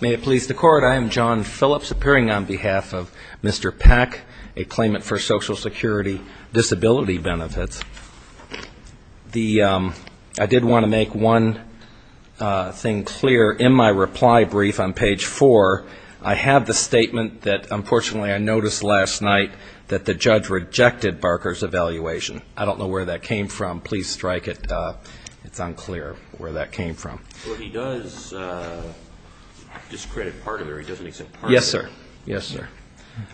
May it please the Court, I am John Phillips appearing on behalf of Mr. Peck, a claimant for Social Security Disability Benefits. I did want to make one thing clear in my reply brief on page 4. I have the statement that unfortunately I noticed last night that the judge rejected Barker's evaluation. I don't know where that came from. Please strike it. It's unclear where that came from. Well, he does discredit part of it or he doesn't accept part of it. Yes, sir. Yes, sir.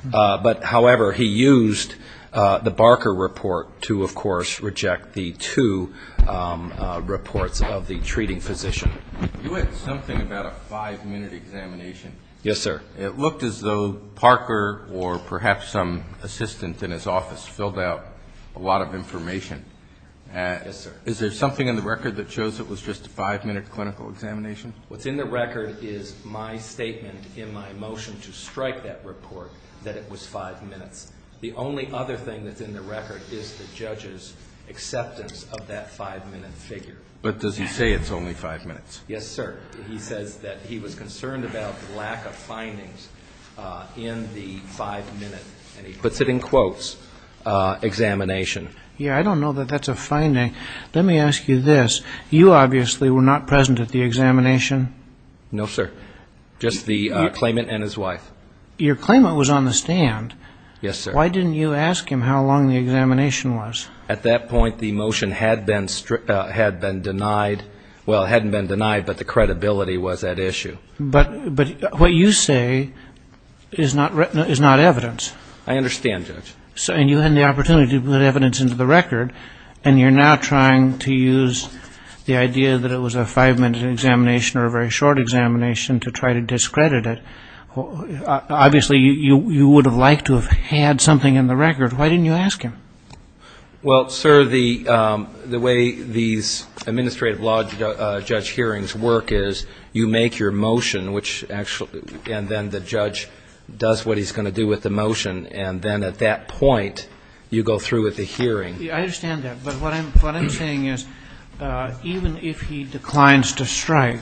But, however, he used the Barker report to, of course, reject the two reports of the treating physician. You had something about a five-minute examination. Yes, sir. It looked as though Parker or perhaps some assistant in his office filled out a lot of information. Yes, sir. Is there something in the record that shows it was just a five-minute clinical examination? What's in the record is my statement in my motion to strike that report that it was five minutes. The only other thing that's in the record is the judge's acceptance of that five-minute figure. But does he say it's only five minutes? Yes, sir. He says that he was concerned about the lack of findings in the five-minute, and he puts it in quotes, examination. Yes, I don't know that that's a finding. Let me ask you this. You obviously were not present at the examination. No, sir. Just the claimant and his wife. Your claimant was on the stand. Yes, sir. Why didn't you ask him how long the examination was? At that point, the motion had been denied. Well, it hadn't been denied, but the credibility was at issue. But what you say is not evidence. I understand, Judge. And you had the opportunity to put evidence into the record, and you're now trying to use the idea that it was a five-minute examination or a very short examination to try to discredit it. Obviously, you would have liked to have had something in the record. Why didn't you ask him? Well, sir, the way these administrative law judge hearings work is you make your motion, and then the judge does what he's going to do with the motion. And then at that point, you go through with the hearing. I understand that. But what I'm saying is even if he declines to strike,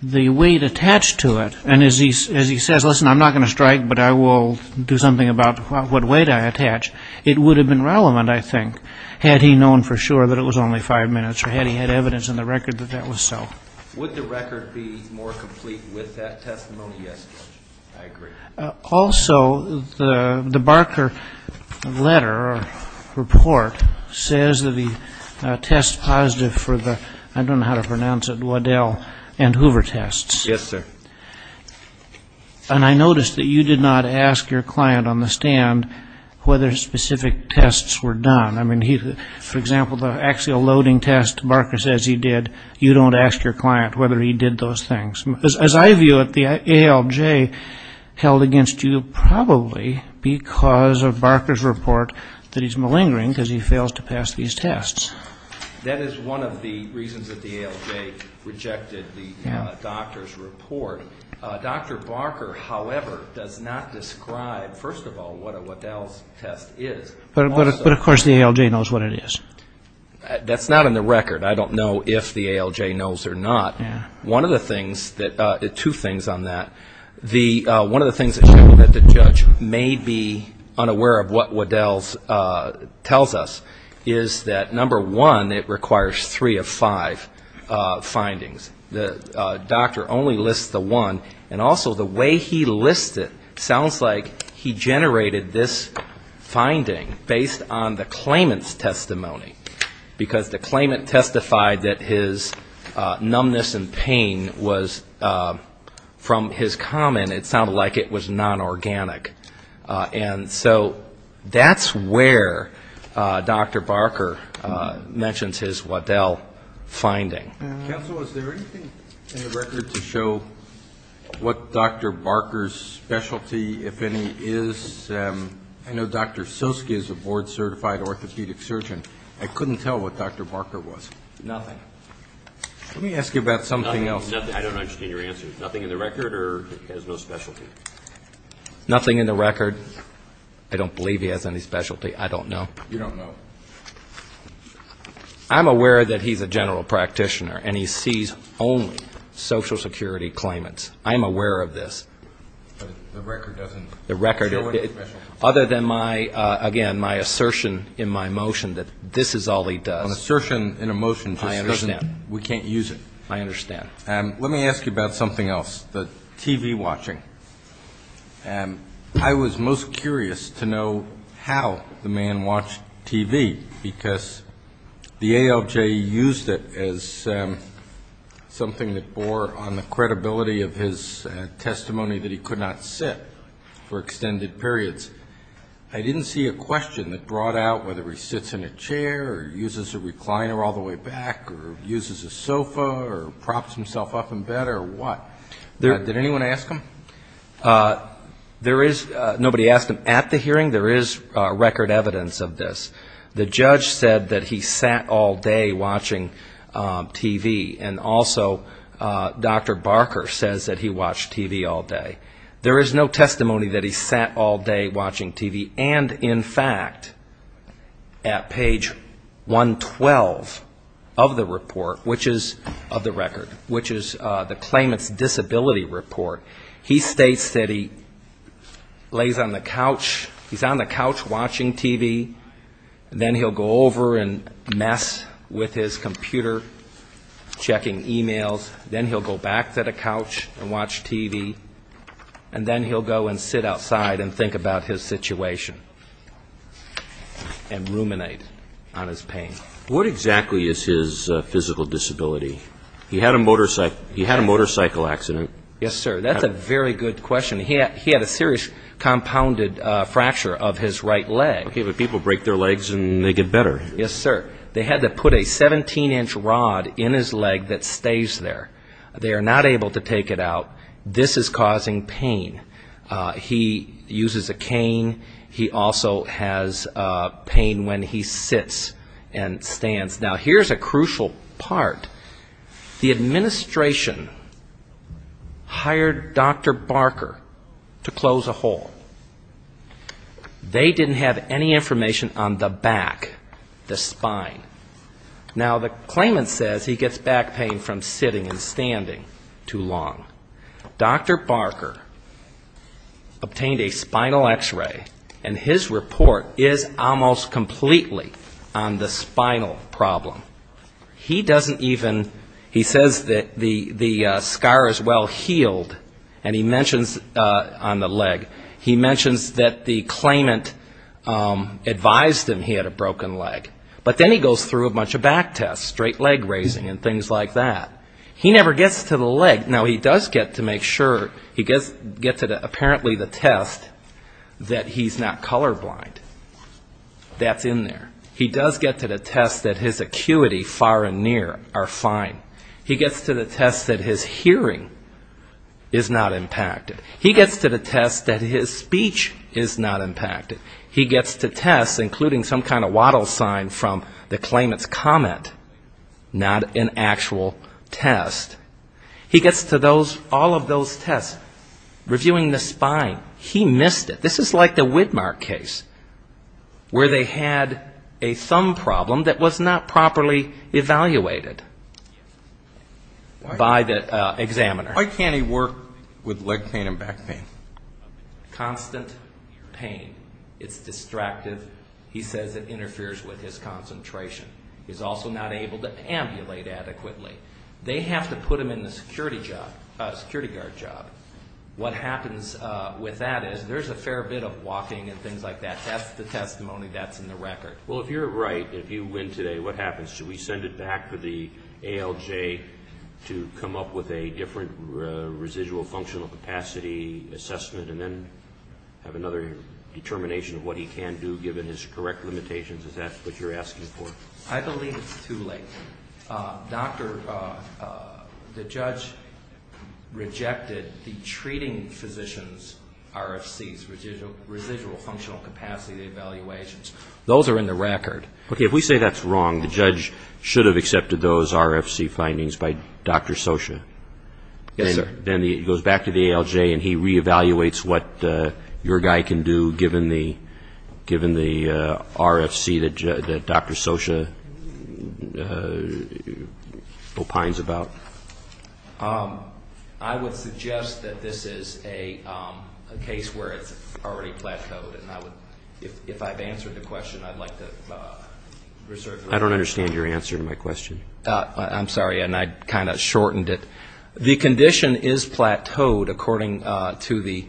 the weight attached to it, and as he says, listen, I'm not going to strike, but I will do something about what weight I attach, it would have been relevant, I think, had he known for sure that it was only five minutes or had he had evidence in the record that that was so. Would the record be more complete with that testimony? Yes, Judge. I agree. Also, the Barker letter or report says that he tests positive for the, I don't know how to pronounce it, Waddell and Hoover tests. Yes, sir. And I noticed that you did not ask your client on the stand whether specific tests were done. I mean, for example, the axial loading test Barker says he did, you don't ask your client whether he did those things. As I view it, the ALJ held against you probably because of Barker's report that he's malingering because he fails to pass these tests. That is one of the reasons that the ALJ rejected the doctor's report. Dr. Barker, however, does not describe, first of all, what a Waddell's test is. But, of course, the ALJ knows what it is. That's not in the record. I don't know if the ALJ knows or not. One of the things that, two things on that, one of the things that the judge may be unaware of what Waddell's tells us is that, number one, it requires three of five findings. The doctor only lists the one. And also the way he lists it sounds like he generated this finding based on the claimant's testimony because the claimant testified that his numbness and pain was, from his comment, it sounded like it was non-organic. And so that's where Dr. Barker mentions his Waddell finding. Counsel, is there anything in the record to show what Dr. Barker's specialty, if any, is? I know Dr. Soski is a board-certified orthopedic surgeon. I couldn't tell what Dr. Barker was. Nothing. Let me ask you about something else. Nothing. I don't understand your answer. Nothing in the record or has no specialty? Nothing in the record. I don't believe he has any specialty. I don't know. You don't know. I'm aware that he's a general practitioner and he sees only Social Security claimants. I'm aware of this. But the record doesn't show it? The record, other than my, again, my assertion in my motion that this is all he does. An assertion in a motion just doesn't we can't use it. I understand. Let me ask you about something else, the TV watching. I was most curious to know how the man watched TV, because the ALJ used it as something that bore on the credibility of his testimony that he could not sit for extended periods. I didn't see a question that brought out whether he sits in a chair or uses a recliner all the way back or uses a sofa or props himself up in bed or what. Did anyone ask him? There is. Nobody asked him at the hearing. There is record evidence of this. The judge said that he sat all day watching TV. And also Dr. Barker says that he watched TV all day. There is no testimony that he sat all day watching TV. And, in fact, at page 112 of the report, which is of the record, which is the claimant's disability report, he states that he lays on the couch. He's on the couch watching TV. Then he'll go over and mess with his computer, checking e-mails. Then he'll go back to the couch and watch TV. And then he'll go and sit outside and think about his situation and ruminate on his pain. What exactly is his physical disability? He had a motorcycle accident. Yes, sir. That's a very good question. He had a serious compounded fracture of his right leg. Okay, but people break their legs and they get better. Yes, sir. They had to put a 17-inch rod in his leg that stays there. They are not able to take it out. This is causing pain. He uses a cane. He also has pain when he sits and stands. Now, here's a crucial part. The administration hired Dr. Barker to close a hole. They didn't have any information on the back, the spine. Now, the claimant says he gets back pain from sitting and standing too long. Dr. Barker obtained a spinal X-ray, and his report is almost completely on the spinal problem. He doesn't even, he says that the scar is well healed, and he mentions on the leg, he mentions that the claimant advised him he had a broken leg. But then he goes through a bunch of back tests, straight leg raising and things like that. He never gets to the leg. Now, he does get to make sure, he gets to apparently the test that he's not colorblind. That's in there. He does get to the test that his acuity far and near are fine. He gets to the test that his hearing is not impacted. He gets to the test that his speech is not impacted. He gets to tests, including some kind of wattle sign from the claimant's comment, not an actual test. He gets to those, all of those tests, reviewing the spine. He missed it. This is like the Whitmark case, where they had a thumb problem that was not properly evaluated by the examiner. Why can't he work with leg pain and back pain? Constant pain. It's distractive. He says it interferes with his concentration. He's also not able to ambulate adequately. They have to put him in the security job, security guard job. What happens with that is there's a fair bit of walking and things like that. That's the testimony that's in the record. Well, if you're right, if you win today, what happens? Do we send it back to the ALJ to come up with a different residual functional capacity assessment and then have another determination of what he can do given his correct limitations? Is that what you're asking for? I believe it's too late. The judge rejected the treating physician's RFCs, residual functional capacity evaluations. Those are in the record. Okay, if we say that's wrong, the judge should have accepted those RFC findings by Dr. Scioscia. Yes, sir. Then he goes back to the ALJ and he re-evaluates what your guy can do given the RFC that Dr. Scioscia opines about. I would suggest that this is a case where it's already plateaued. If I've answered the question, I'd like to reserve it. I don't understand your answer to my question. I'm sorry, and I kind of shortened it. The condition is plateaued according to the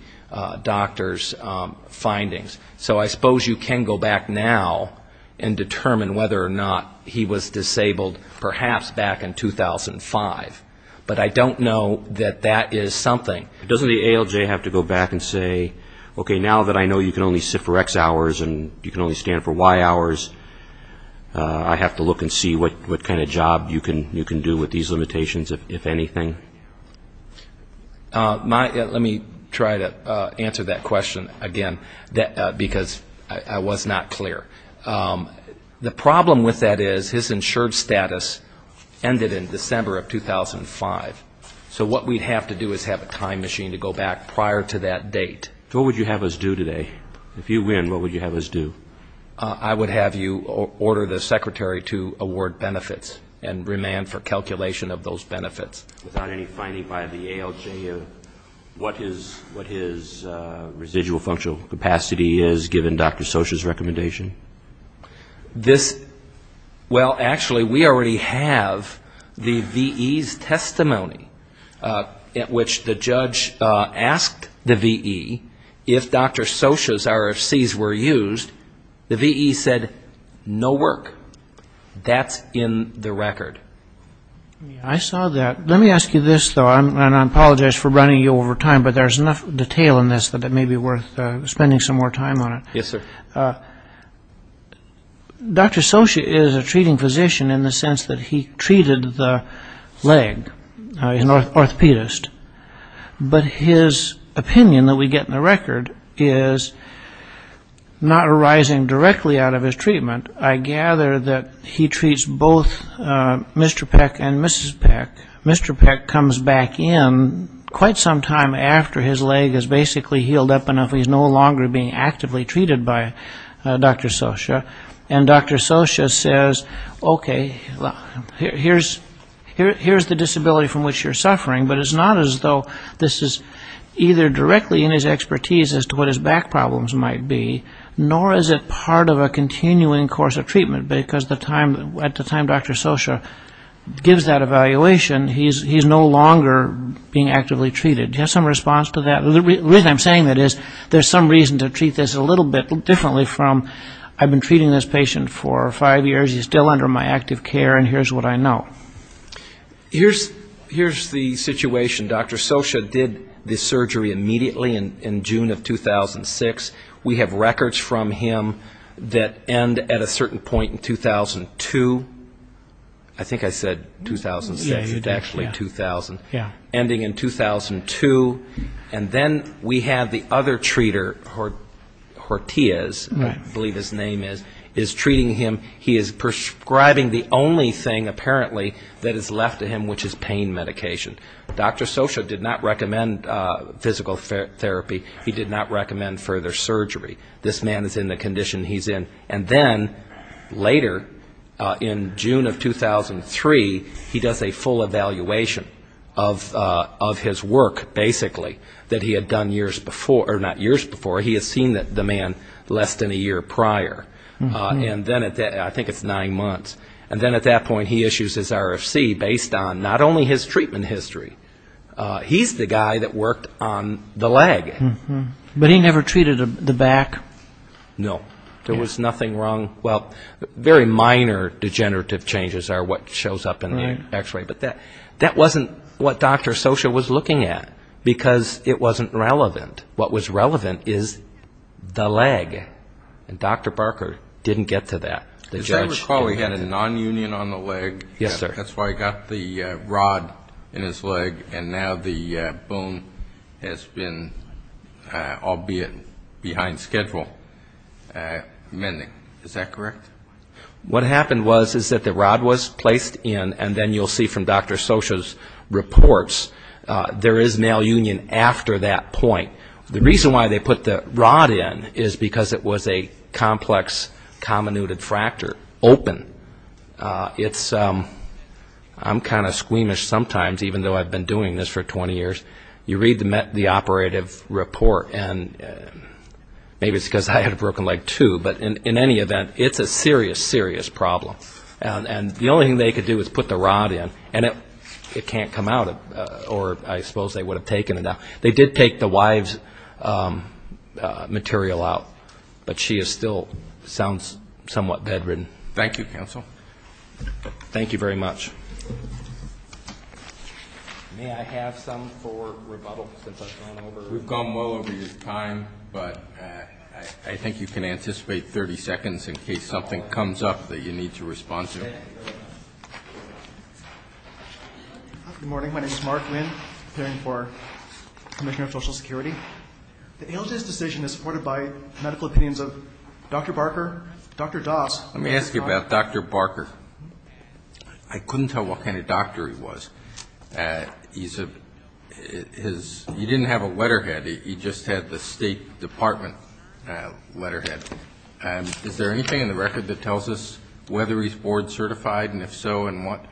doctor's findings. So I suppose you can go back now and determine whether or not he was disabled perhaps back in 2005. But I don't know that that is something. Doesn't the ALJ have to go back and say, okay, now that I know you can only sit for X hours and you can only stand for Y hours, I have to look and see what kind of job you can do with these limitations, if anything? Let me try to answer that question again because I was not clear. The problem with that is his insured status ended in December of 2005. So what we'd have to do is have a time machine to go back prior to that date. What would you have us do today? If you win, what would you have us do? I would have you order the secretary to award benefits and remand for calculation of those benefits. Without any finding by the ALJ of what his residual functional capacity is given Dr. Socha's recommendation? Well, actually, we already have the VE's testimony at which the judge asked the VE if Dr. Socha's RFCs were used, the VE said no work. That's in the record. I saw that. Let me ask you this, though, and I apologize for running you over time, but there's enough detail in this that it may be worth spending some more time on it. Yes, sir. Dr. Socha is a treating physician in the sense that he treated the leg. He's an orthopedist. But his opinion that we get in the record is not arising directly out of his treatment. I gather that he treats both Mr. Peck and Mrs. Peck. Mr. Peck comes back in quite some time after his leg is basically healed up enough he's no longer being actively treated by Dr. Socha, and Dr. Socha says, okay, here's the disability from which you're suffering, but it's not as though this is either directly in his expertise as to what his back problems might be, nor is it part of a continuing course of treatment because at the time Dr. Socha gives that evaluation, he's no longer being actively treated. Do you have some response to that? The reason I'm saying that is there's some reason to treat this a little bit differently from I've been treating this patient for five years, he's still under my active care, and here's what I know. Here's the situation. Dr. Socha did the surgery immediately in June of 2006. We have records from him that end at a certain point in 2002. I think I said 2006. It's actually 2000. Ending in 2002. And then we have the other treater, Hortiz, I believe his name is, is treating him. He is prescribing the only thing apparently that is left to him, which is pain medication. Dr. Socha did not recommend physical therapy. He did not recommend further surgery. This man is in the condition he's in. And then later, in June of 2003, he does a full evaluation of his work, basically, that he had done years before, or not years before, he has seen the man less than a year prior. And then at that, I think it's nine months. And then at that point he issues his RFC based on not only his treatment history. He's the guy that worked on the leg. But he never treated the back? No. There was nothing wrong, well, very minor degenerative changes are what shows up in the X-ray. But that wasn't what Dr. Socha was looking at, because it wasn't relevant. What was relevant is the leg. And Dr. Barker didn't get to that. As I recall, he had a nonunion on the leg. Yes, sir. That's why he got the rod in his leg, and now the bone has been, albeit behind schedule, mending. Is that correct? What happened was is that the rod was placed in, and then you'll see from Dr. Socha's reports, there is now union after that point. The reason why they put the rod in is because it was a complex comminuted fracture open. I'm kind of squeamish sometimes, even though I've been doing this for 20 years. You read the operative report, and maybe it's because I had a broken leg too, but in any event, it's a serious, serious problem. And the only thing they could do is put the rod in, and it can't come out, or I suppose they would have taken it out. They did take the wife's material out, but she still sounds somewhat dead-ridden. Thank you, counsel. Thank you very much. May I have some for rebuttal since I've gone over? We've gone well over your time, but I think you can anticipate 30 seconds in case something comes up that you need to respond to. Okay. Good morning. My name is Mark Winn, preparing for Commissioner of Social Security. The ALJ's decision is supported by medical opinions of Dr. Barker, Dr. Doss. Let me ask you about Dr. Barker. I couldn't tell what kind of doctor he was. He didn't have a letterhead. He just had the State Department letterhead. Is there anything in the record that tells us whether he's board-certified, and if so, in what?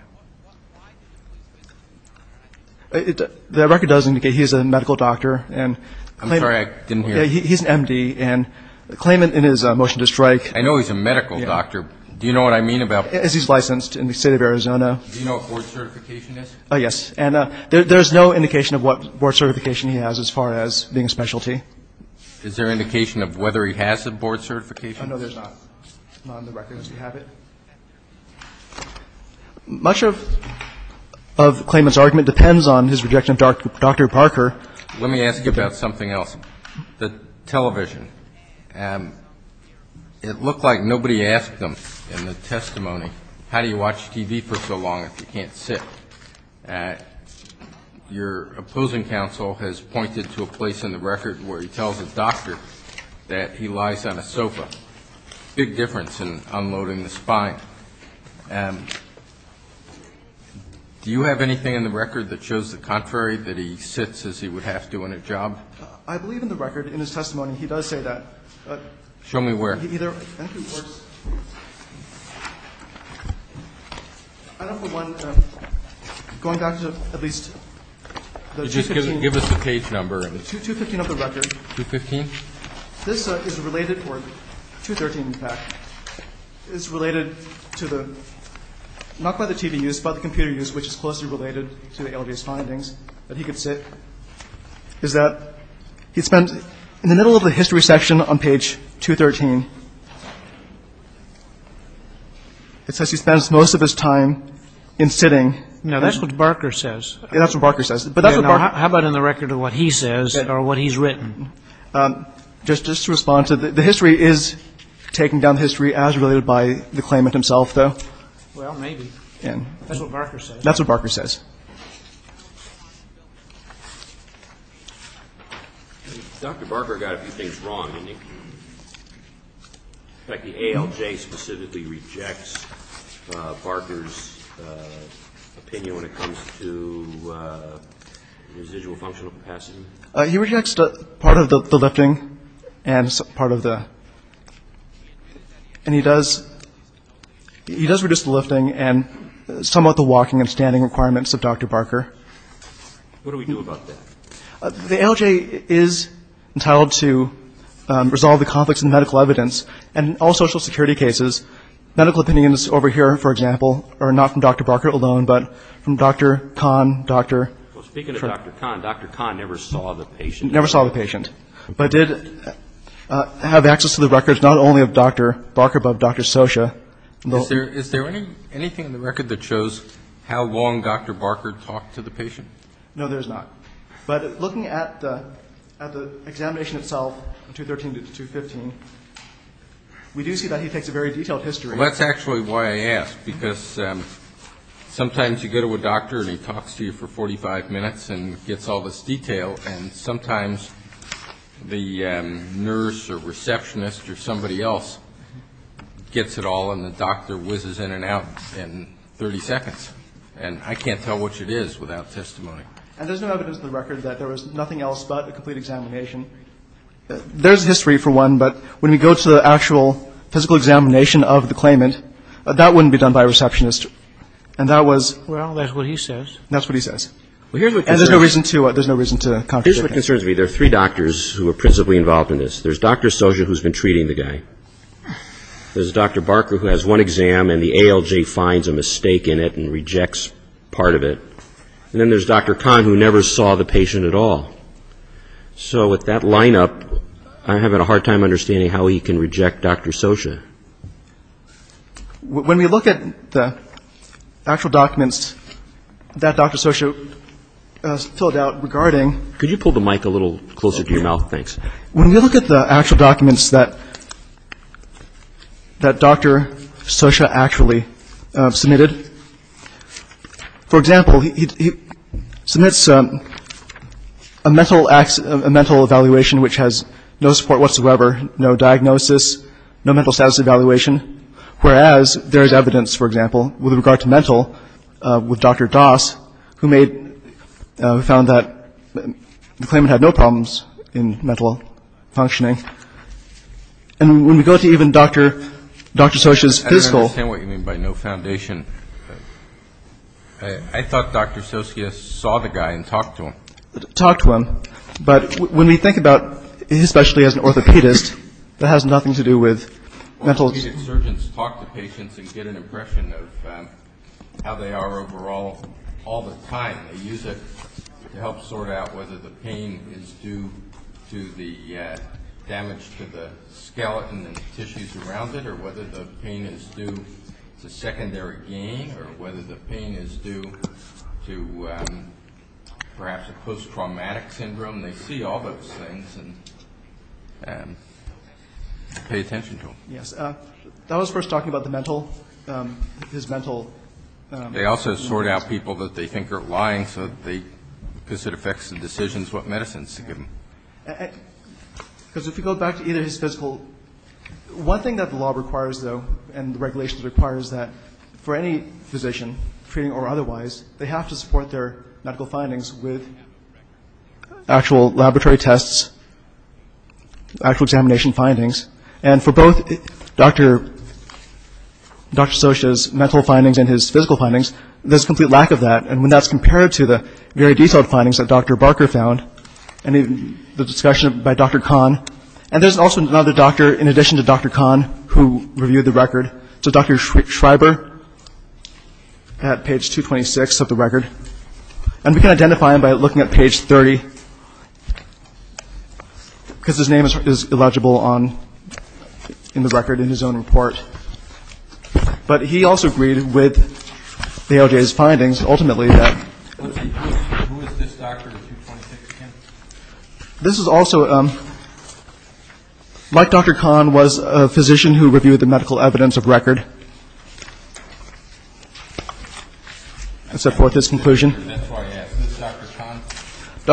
The record does indicate he's a medical doctor. I'm sorry, I didn't hear. He's an M.D., and claimant in his motion to strike. I know he's a medical doctor. Do you know what I mean about that? Because he's licensed in the State of Arizona. Do you know what board certification is? Yes. And there's no indication of what board certification he has as far as being a specialty. Is there indication of whether he has the board certification? No, there's not. It's not in the record. Does he have it? Much of claimant's argument depends on his rejection of Dr. Barker. Let me ask you about something else. The television. It looked like nobody asked them in the testimony, how do you watch TV for so long if you can't sit? Your opposing counsel has pointed to a place in the record where he tells a doctor that he lies on a sofa. Big difference in unloading the spine. Do you have anything in the record that shows the contrary, that he sits as he would have to in a job? I believe in the record, in his testimony, he does say that. Show me where. I don't have the one going back to at least the 215. Give us the page number. The 215 of the record. 215? This is related for 213, in fact. It's related to the, not by the TV use, but the computer use, which is closely related to the ALDS findings. I don't know if you can see this, but he could sit. Is that he spends, in the middle of the history section on page 213, it says he spends most of his time in sitting. Now, that's what Barker says. That's what Barker says. How about in the record of what he says or what he's written? Just to respond to the history is taking down history as related by the claimant himself, though. Well, maybe. That's what Barker says. That's what Barker says. Dr. Barker got a few things wrong. In fact, the ALJ specifically rejects Barker's opinion when it comes to residual functional capacity. He rejects part of the lifting and part of the, and he does, he does reduce the lifting and somewhat the walking and standing requirements of Dr. Barker. What do we do about that? The ALJ is entitled to resolve the conflicts in medical evidence and all social security cases. Medical opinions over here, for example, are not from Dr. Barker alone, but from Dr. Kahn, Dr. Well, speaking of Dr. Kahn, Dr. Kahn never saw the patient. Never saw the patient. But did have access to the records not only of Dr. Barker, but Dr. Socha. Is there anything in the record that shows how long Dr. Barker talked to the patient? No, there's not. But looking at the examination itself, 213 to 215, we do see that he takes a very detailed history. That's actually why I ask, because sometimes you go to a doctor and he talks to you for 45 minutes and gets all this detail, and sometimes the nurse or receptionist or somebody else gets it all and the doctor whizzes in and out in 30 seconds. And I can't tell which it is without testimony. And there's no evidence in the record that there was nothing else but a complete examination. There's history, for one, but when we go to the actual physical examination of the claimant, that wouldn't be done by a receptionist. And that was — Well, that's what he says. That's what he says. And there's no reason to contradict that. Here's what concerns me. There are three doctors who are principally involved in this. There's Dr. Socha, who's been treating the guy. There's Dr. Barker, who has one exam, and the ALJ finds a mistake in it and rejects part of it. And then there's Dr. Kahn, who never saw the patient at all. So with that lineup, I'm having a hard time understanding how he can reject Dr. Socha. When we look at the actual documents that Dr. Socha filled out regarding — Could you pull the mic a little closer to your mouth? Thanks. When we look at the actual documents that Dr. Socha actually submitted, for example, he submits a mental evaluation which has no support whatsoever, no diagnosis, no mental status evaluation, whereas there is evidence, for example, with regard to mental with Dr. Das, who found that the claimant had no problems in mental functioning. And when we go to even Dr. Socha's physical — I don't understand what you mean by no foundation. I thought Dr. Socha saw the guy and talked to him. Talked to him. But when we think about, especially as an orthopedist, that has nothing to do with mental — Orthopedic surgeons talk to patients and get an impression of how they are overall all the time. They use it to help sort out whether the pain is due to the damage to the skeleton and tissues around it or whether the pain is due to secondary gain or whether the pain is due to perhaps a post-traumatic syndrome. They see all those things and pay attention to them. Yes. That was first talking about the mental — his mental — They also sort out people that they think are lying because it affects the decisions, what medicines to give them. Because if you go back to either his physical — One thing that the law requires, though, and the regulations require, is that for any physician, treating or otherwise, they have to support their medical findings with actual laboratory tests, actual examination findings. And for both Dr. Socha's mental findings and his physical findings, there's complete lack of that. And when that's compared to the very detailed findings that Dr. Barker found and the discussion by Dr. Kahn, and there's also another doctor in addition to Dr. Kahn who reviewed the record, so Dr. Schreiber at page 226 of the record. And we can identify him by looking at page 30 because his name is illegible on — in the record in his own report. But he also agreed with ALJ's findings ultimately that — Who is this doctor in 226? This is also — like Dr. Kahn was a physician who reviewed the medical evidence of record. I set forth this conclusion. That's why I asked. Is this Dr. Kahn?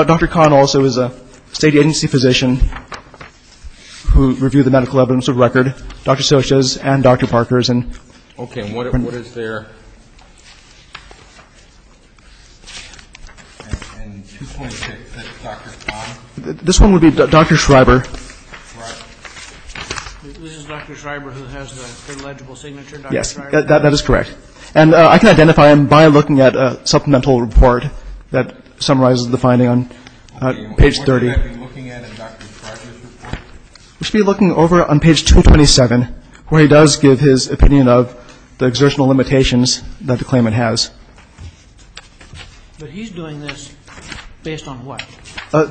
Dr. Kahn also is a state agency physician who reviewed the medical evidence of record. Dr. Socha's and Dr. Barker's and — Okay, and what is their — In 226, is this Dr. Kahn? This one would be Dr. Schreiber. Right. This is Dr. Schreiber who has the illegible signature, Dr. Schreiber? Yes, that is correct. And I can identify him by looking at a supplemental report that summarizes the finding on page 30. What should I be looking at in Dr. Schreiber's report? You should be looking over on page 227 where he does give his opinion of the exertional limitations that the claimant has. But he's doing this based on what?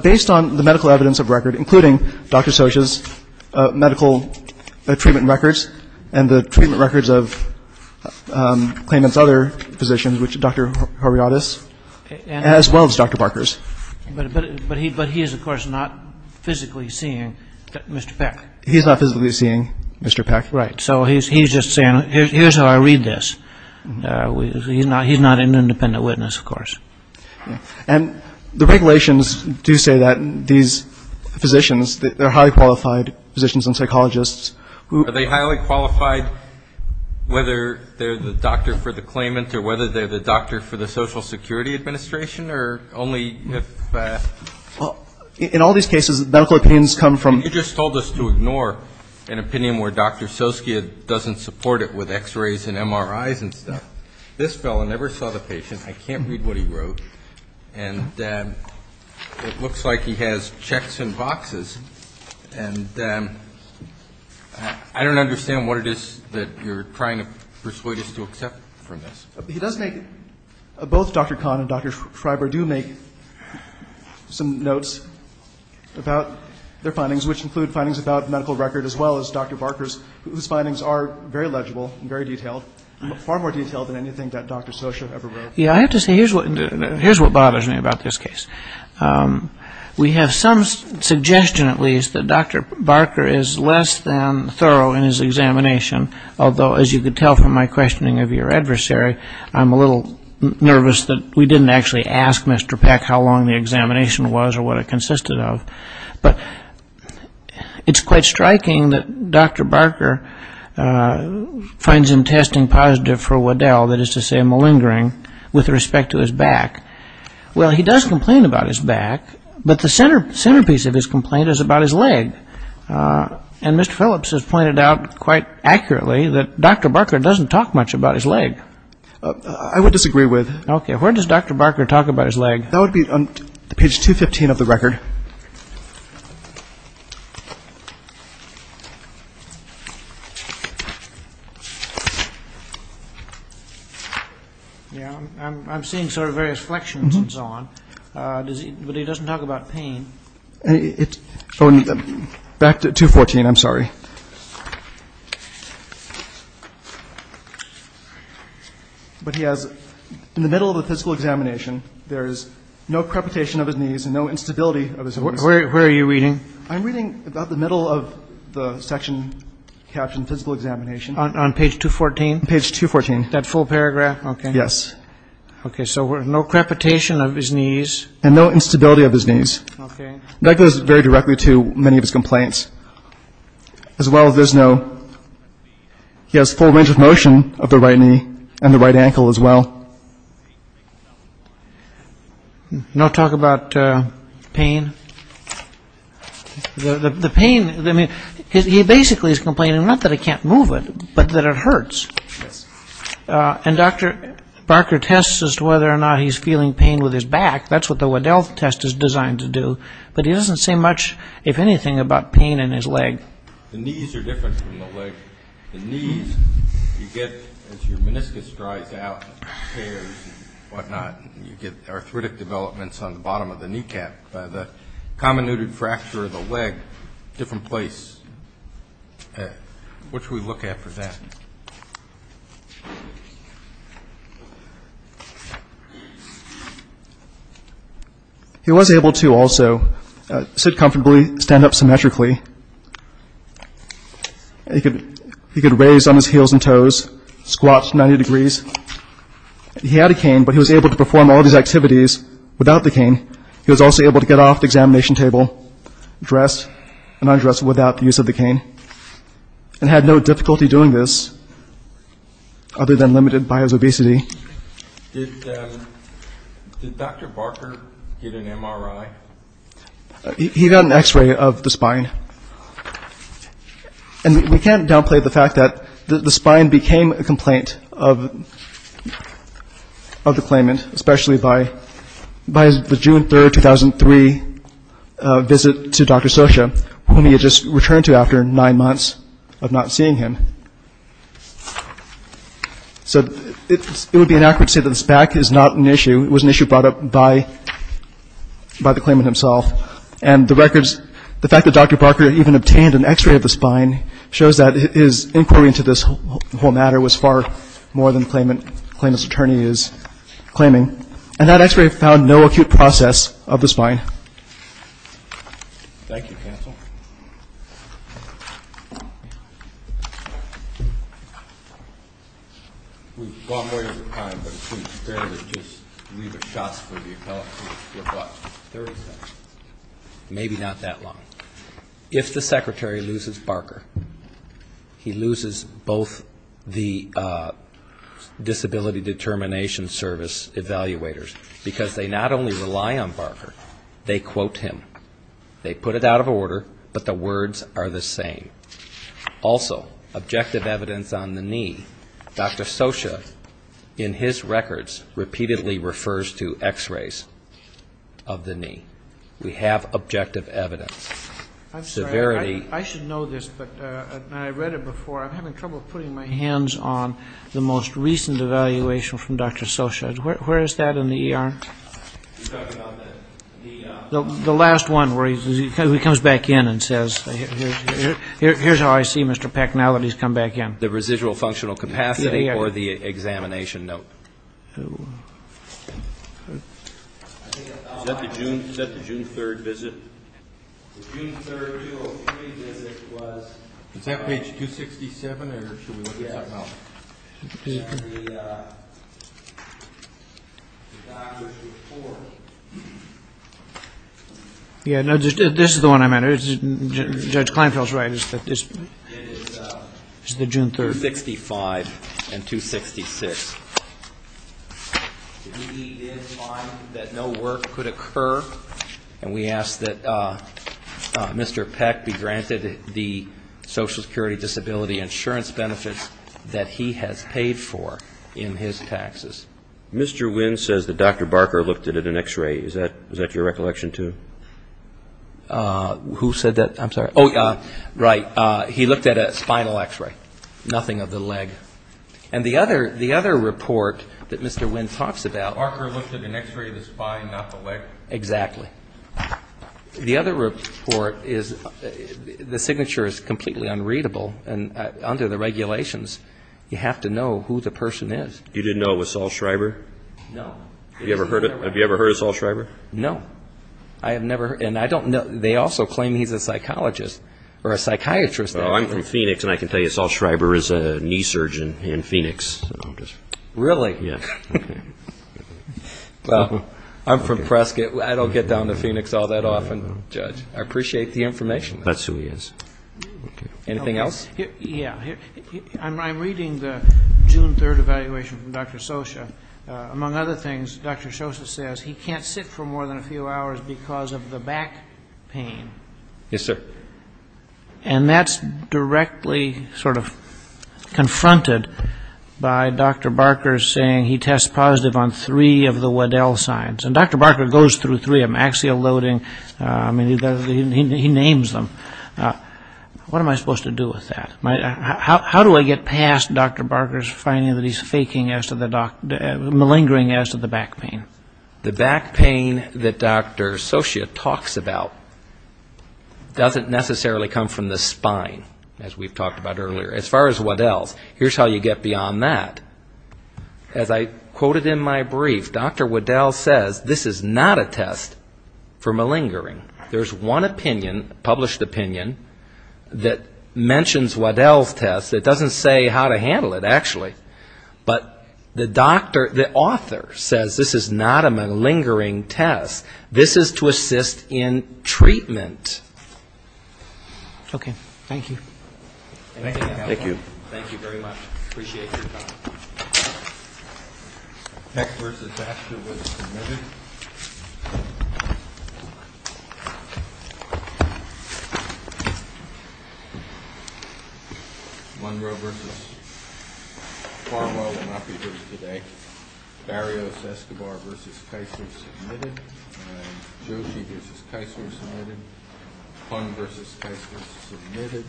Based on the medical evidence of record, including Dr. Socha's medical treatment records and the treatment records of the claimant's other physicians, which is Dr. Horiadis, as well as Dr. Barker's. But he is, of course, not physically seeing Mr. Peck. He's not physically seeing Mr. Peck. Right. So he's just saying, here's how I read this. He's not an independent witness, of course. And the regulations do say that these physicians, they're highly qualified physicians and psychologists who — Are they highly qualified whether they're the doctor for the claimant or whether they're the doctor for the Social Security Administration? Or only if — In all these cases, medical opinions come from — You just told us to ignore an opinion where Dr. Soski doesn't support it with X-rays and MRIs and stuff. This fellow never saw the patient. I can't read what he wrote. And it looks like he has checks in boxes. And I don't understand what it is that you're trying to persuade us to accept from this. He does make — both Dr. Kahn and Dr. Freiberg do make some notes about their findings, which include findings about medical record as well as Dr. Barker's, whose findings are very legible and very detailed, far more detailed than anything that Dr. Soski ever wrote. Yeah, I have to say, here's what bothers me about this case. We have some suggestion, at least, that Dr. Barker is less than thorough in his examination, although, as you could tell from my questioning of your adversary, I'm a little nervous that we didn't actually ask Mr. Peck how long the examination was or what it consisted of. But it's quite striking that Dr. Barker finds him testing positive for Waddell, that is to say, malingering, with respect to his back. Well, he does complain about his back, but the centerpiece of his complaint is about his leg. And Mr. Phillips has pointed out quite accurately that Dr. Barker doesn't talk much about his leg. I would disagree with — Okay, where does Dr. Barker talk about his leg? That would be on page 215 of the record. Yeah, I'm seeing sort of various flexions and so on, but he doesn't talk about pain. Back to 214, I'm sorry. But he has — in the middle of the physical examination, there is no crepitation of his knees and no instability of his knees. Where are you reading? I'm reading about the middle of the section captioned physical examination. On page 214? Page 214. That full paragraph? Yes. Okay, so no crepitation of his knees. And no instability of his knees. Okay. That goes very directly to many of his complaints. As well, there's no — he has full range of motion of the right knee and the right ankle as well. No talk about pain? The pain — I mean, he basically is complaining not that I can't move it, but that it hurts. And Dr. Barker tests as to whether or not he's feeling pain with his back. That's what the Waddell test is designed to do. But he doesn't say much, if anything, about pain in his leg. The knees are different from the leg. The knees you get as your meniscus dries out and tears and whatnot. You get arthritic developments on the bottom of the kneecap. The common knooted fracture of the leg, different place. What should we look at for that? Okay. He was able to also sit comfortably, stand up symmetrically. He could raise on his heels and toes, squat 90 degrees. He had a cane, but he was able to perform all these activities without the cane. He was also able to get off the examination table dressed and undressed without the use of the cane. And had no difficulty doing this, other than limited by his obesity. Did Dr. Barker get an MRI? He got an X-ray of the spine. And we can't downplay the fact that the spine became a complaint of the claimant, especially by the June 3rd, 2003 visit to Dr. Socha, whom he had just returned to after nine months of not seeing him. So it would be inaccurate to say that this back is not an issue. It was an issue brought up by the claimant himself. And the records, the fact that Dr. Barker even obtained an X-ray of the spine, shows that his inquiry into this whole matter was far more than the claimant's attorney is claiming. And that X-ray found no acute process of the spine. Thank you, counsel. We've gone way over time, but it seems fair to just leave the shots for the appellate to reflect. Maybe not that long. If the secretary loses Barker, he loses both the Disability Determination Service evaluators, because they not only rely on Barker, they quote him. They put it out of order, but the words are the same. Also, objective evidence on the knee, Dr. Socha in his records repeatedly refers to X-rays of the knee. We have objective evidence. I'm sorry, I should know this, but I read it before. I'm having trouble putting my hands on the most recent evaluation from Dr. Socha. Where is that in the ER? The last one where he comes back in and says, here's how I see Mr. Packnality has come back in. It's either the residual functional capacity or the examination note. Is that the June 3rd visit? Is that page 267, or should we look at something else? The doctor's report. Yeah, this is the one I meant. Judge Kleinfeld's right. It's the June 3rd. 265 and 266. He did find that no work could occur, and we ask that Mr. Peck be granted the Social Security Disability Insurance benefits that he has paid. Mr. Wynn says that Dr. Barker looked at an X-ray. Is that your recollection, too? Who said that? I'm sorry. Right. He looked at a spinal X-ray, nothing of the leg. And the other report that Mr. Wynn talks about... Barker looked at an X-ray of the spine, not the leg. Exactly. The other report is the signature is completely unreadable, and under the regulations, you have to know who the person is. You didn't know it was Saul Schreiber? No. Have you ever heard of Saul Schreiber? No. They also claim he's a psychologist or a psychiatrist. I'm from Phoenix, and I can tell you Saul Schreiber is a knee surgeon in Phoenix. Really? I'm from Prescott. I don't get down to Phoenix all that often, Judge. I appreciate the information. That's who he is. I'm reading the June 3rd evaluation from Dr. Scioscia. Among other things, Dr. Scioscia says he can't sit for more than a few hours because of the back pain. Yes, sir. And that's directly sort of confronted by Dr. Barker saying he tests positive on three of the Waddell signs. And Dr. Barker goes through three of them, axial loading, he names them. What am I supposed to do with that? How do I get past Dr. Barker's finding that he's malingering as to the back pain? The back pain that Dr. Scioscia talks about doesn't necessarily come from the spine, as we've talked about earlier. As far as Waddell's, here's how you get beyond that. As I quoted in my brief, Dr. Waddell says this is not a test for malingering. There's one opinion, published opinion, that mentions Waddell's test that doesn't say how to handle it, actually. But the doctor, the author says this is not a malingering test. This is to assist in treatment. Okay. Thank you. Thank you.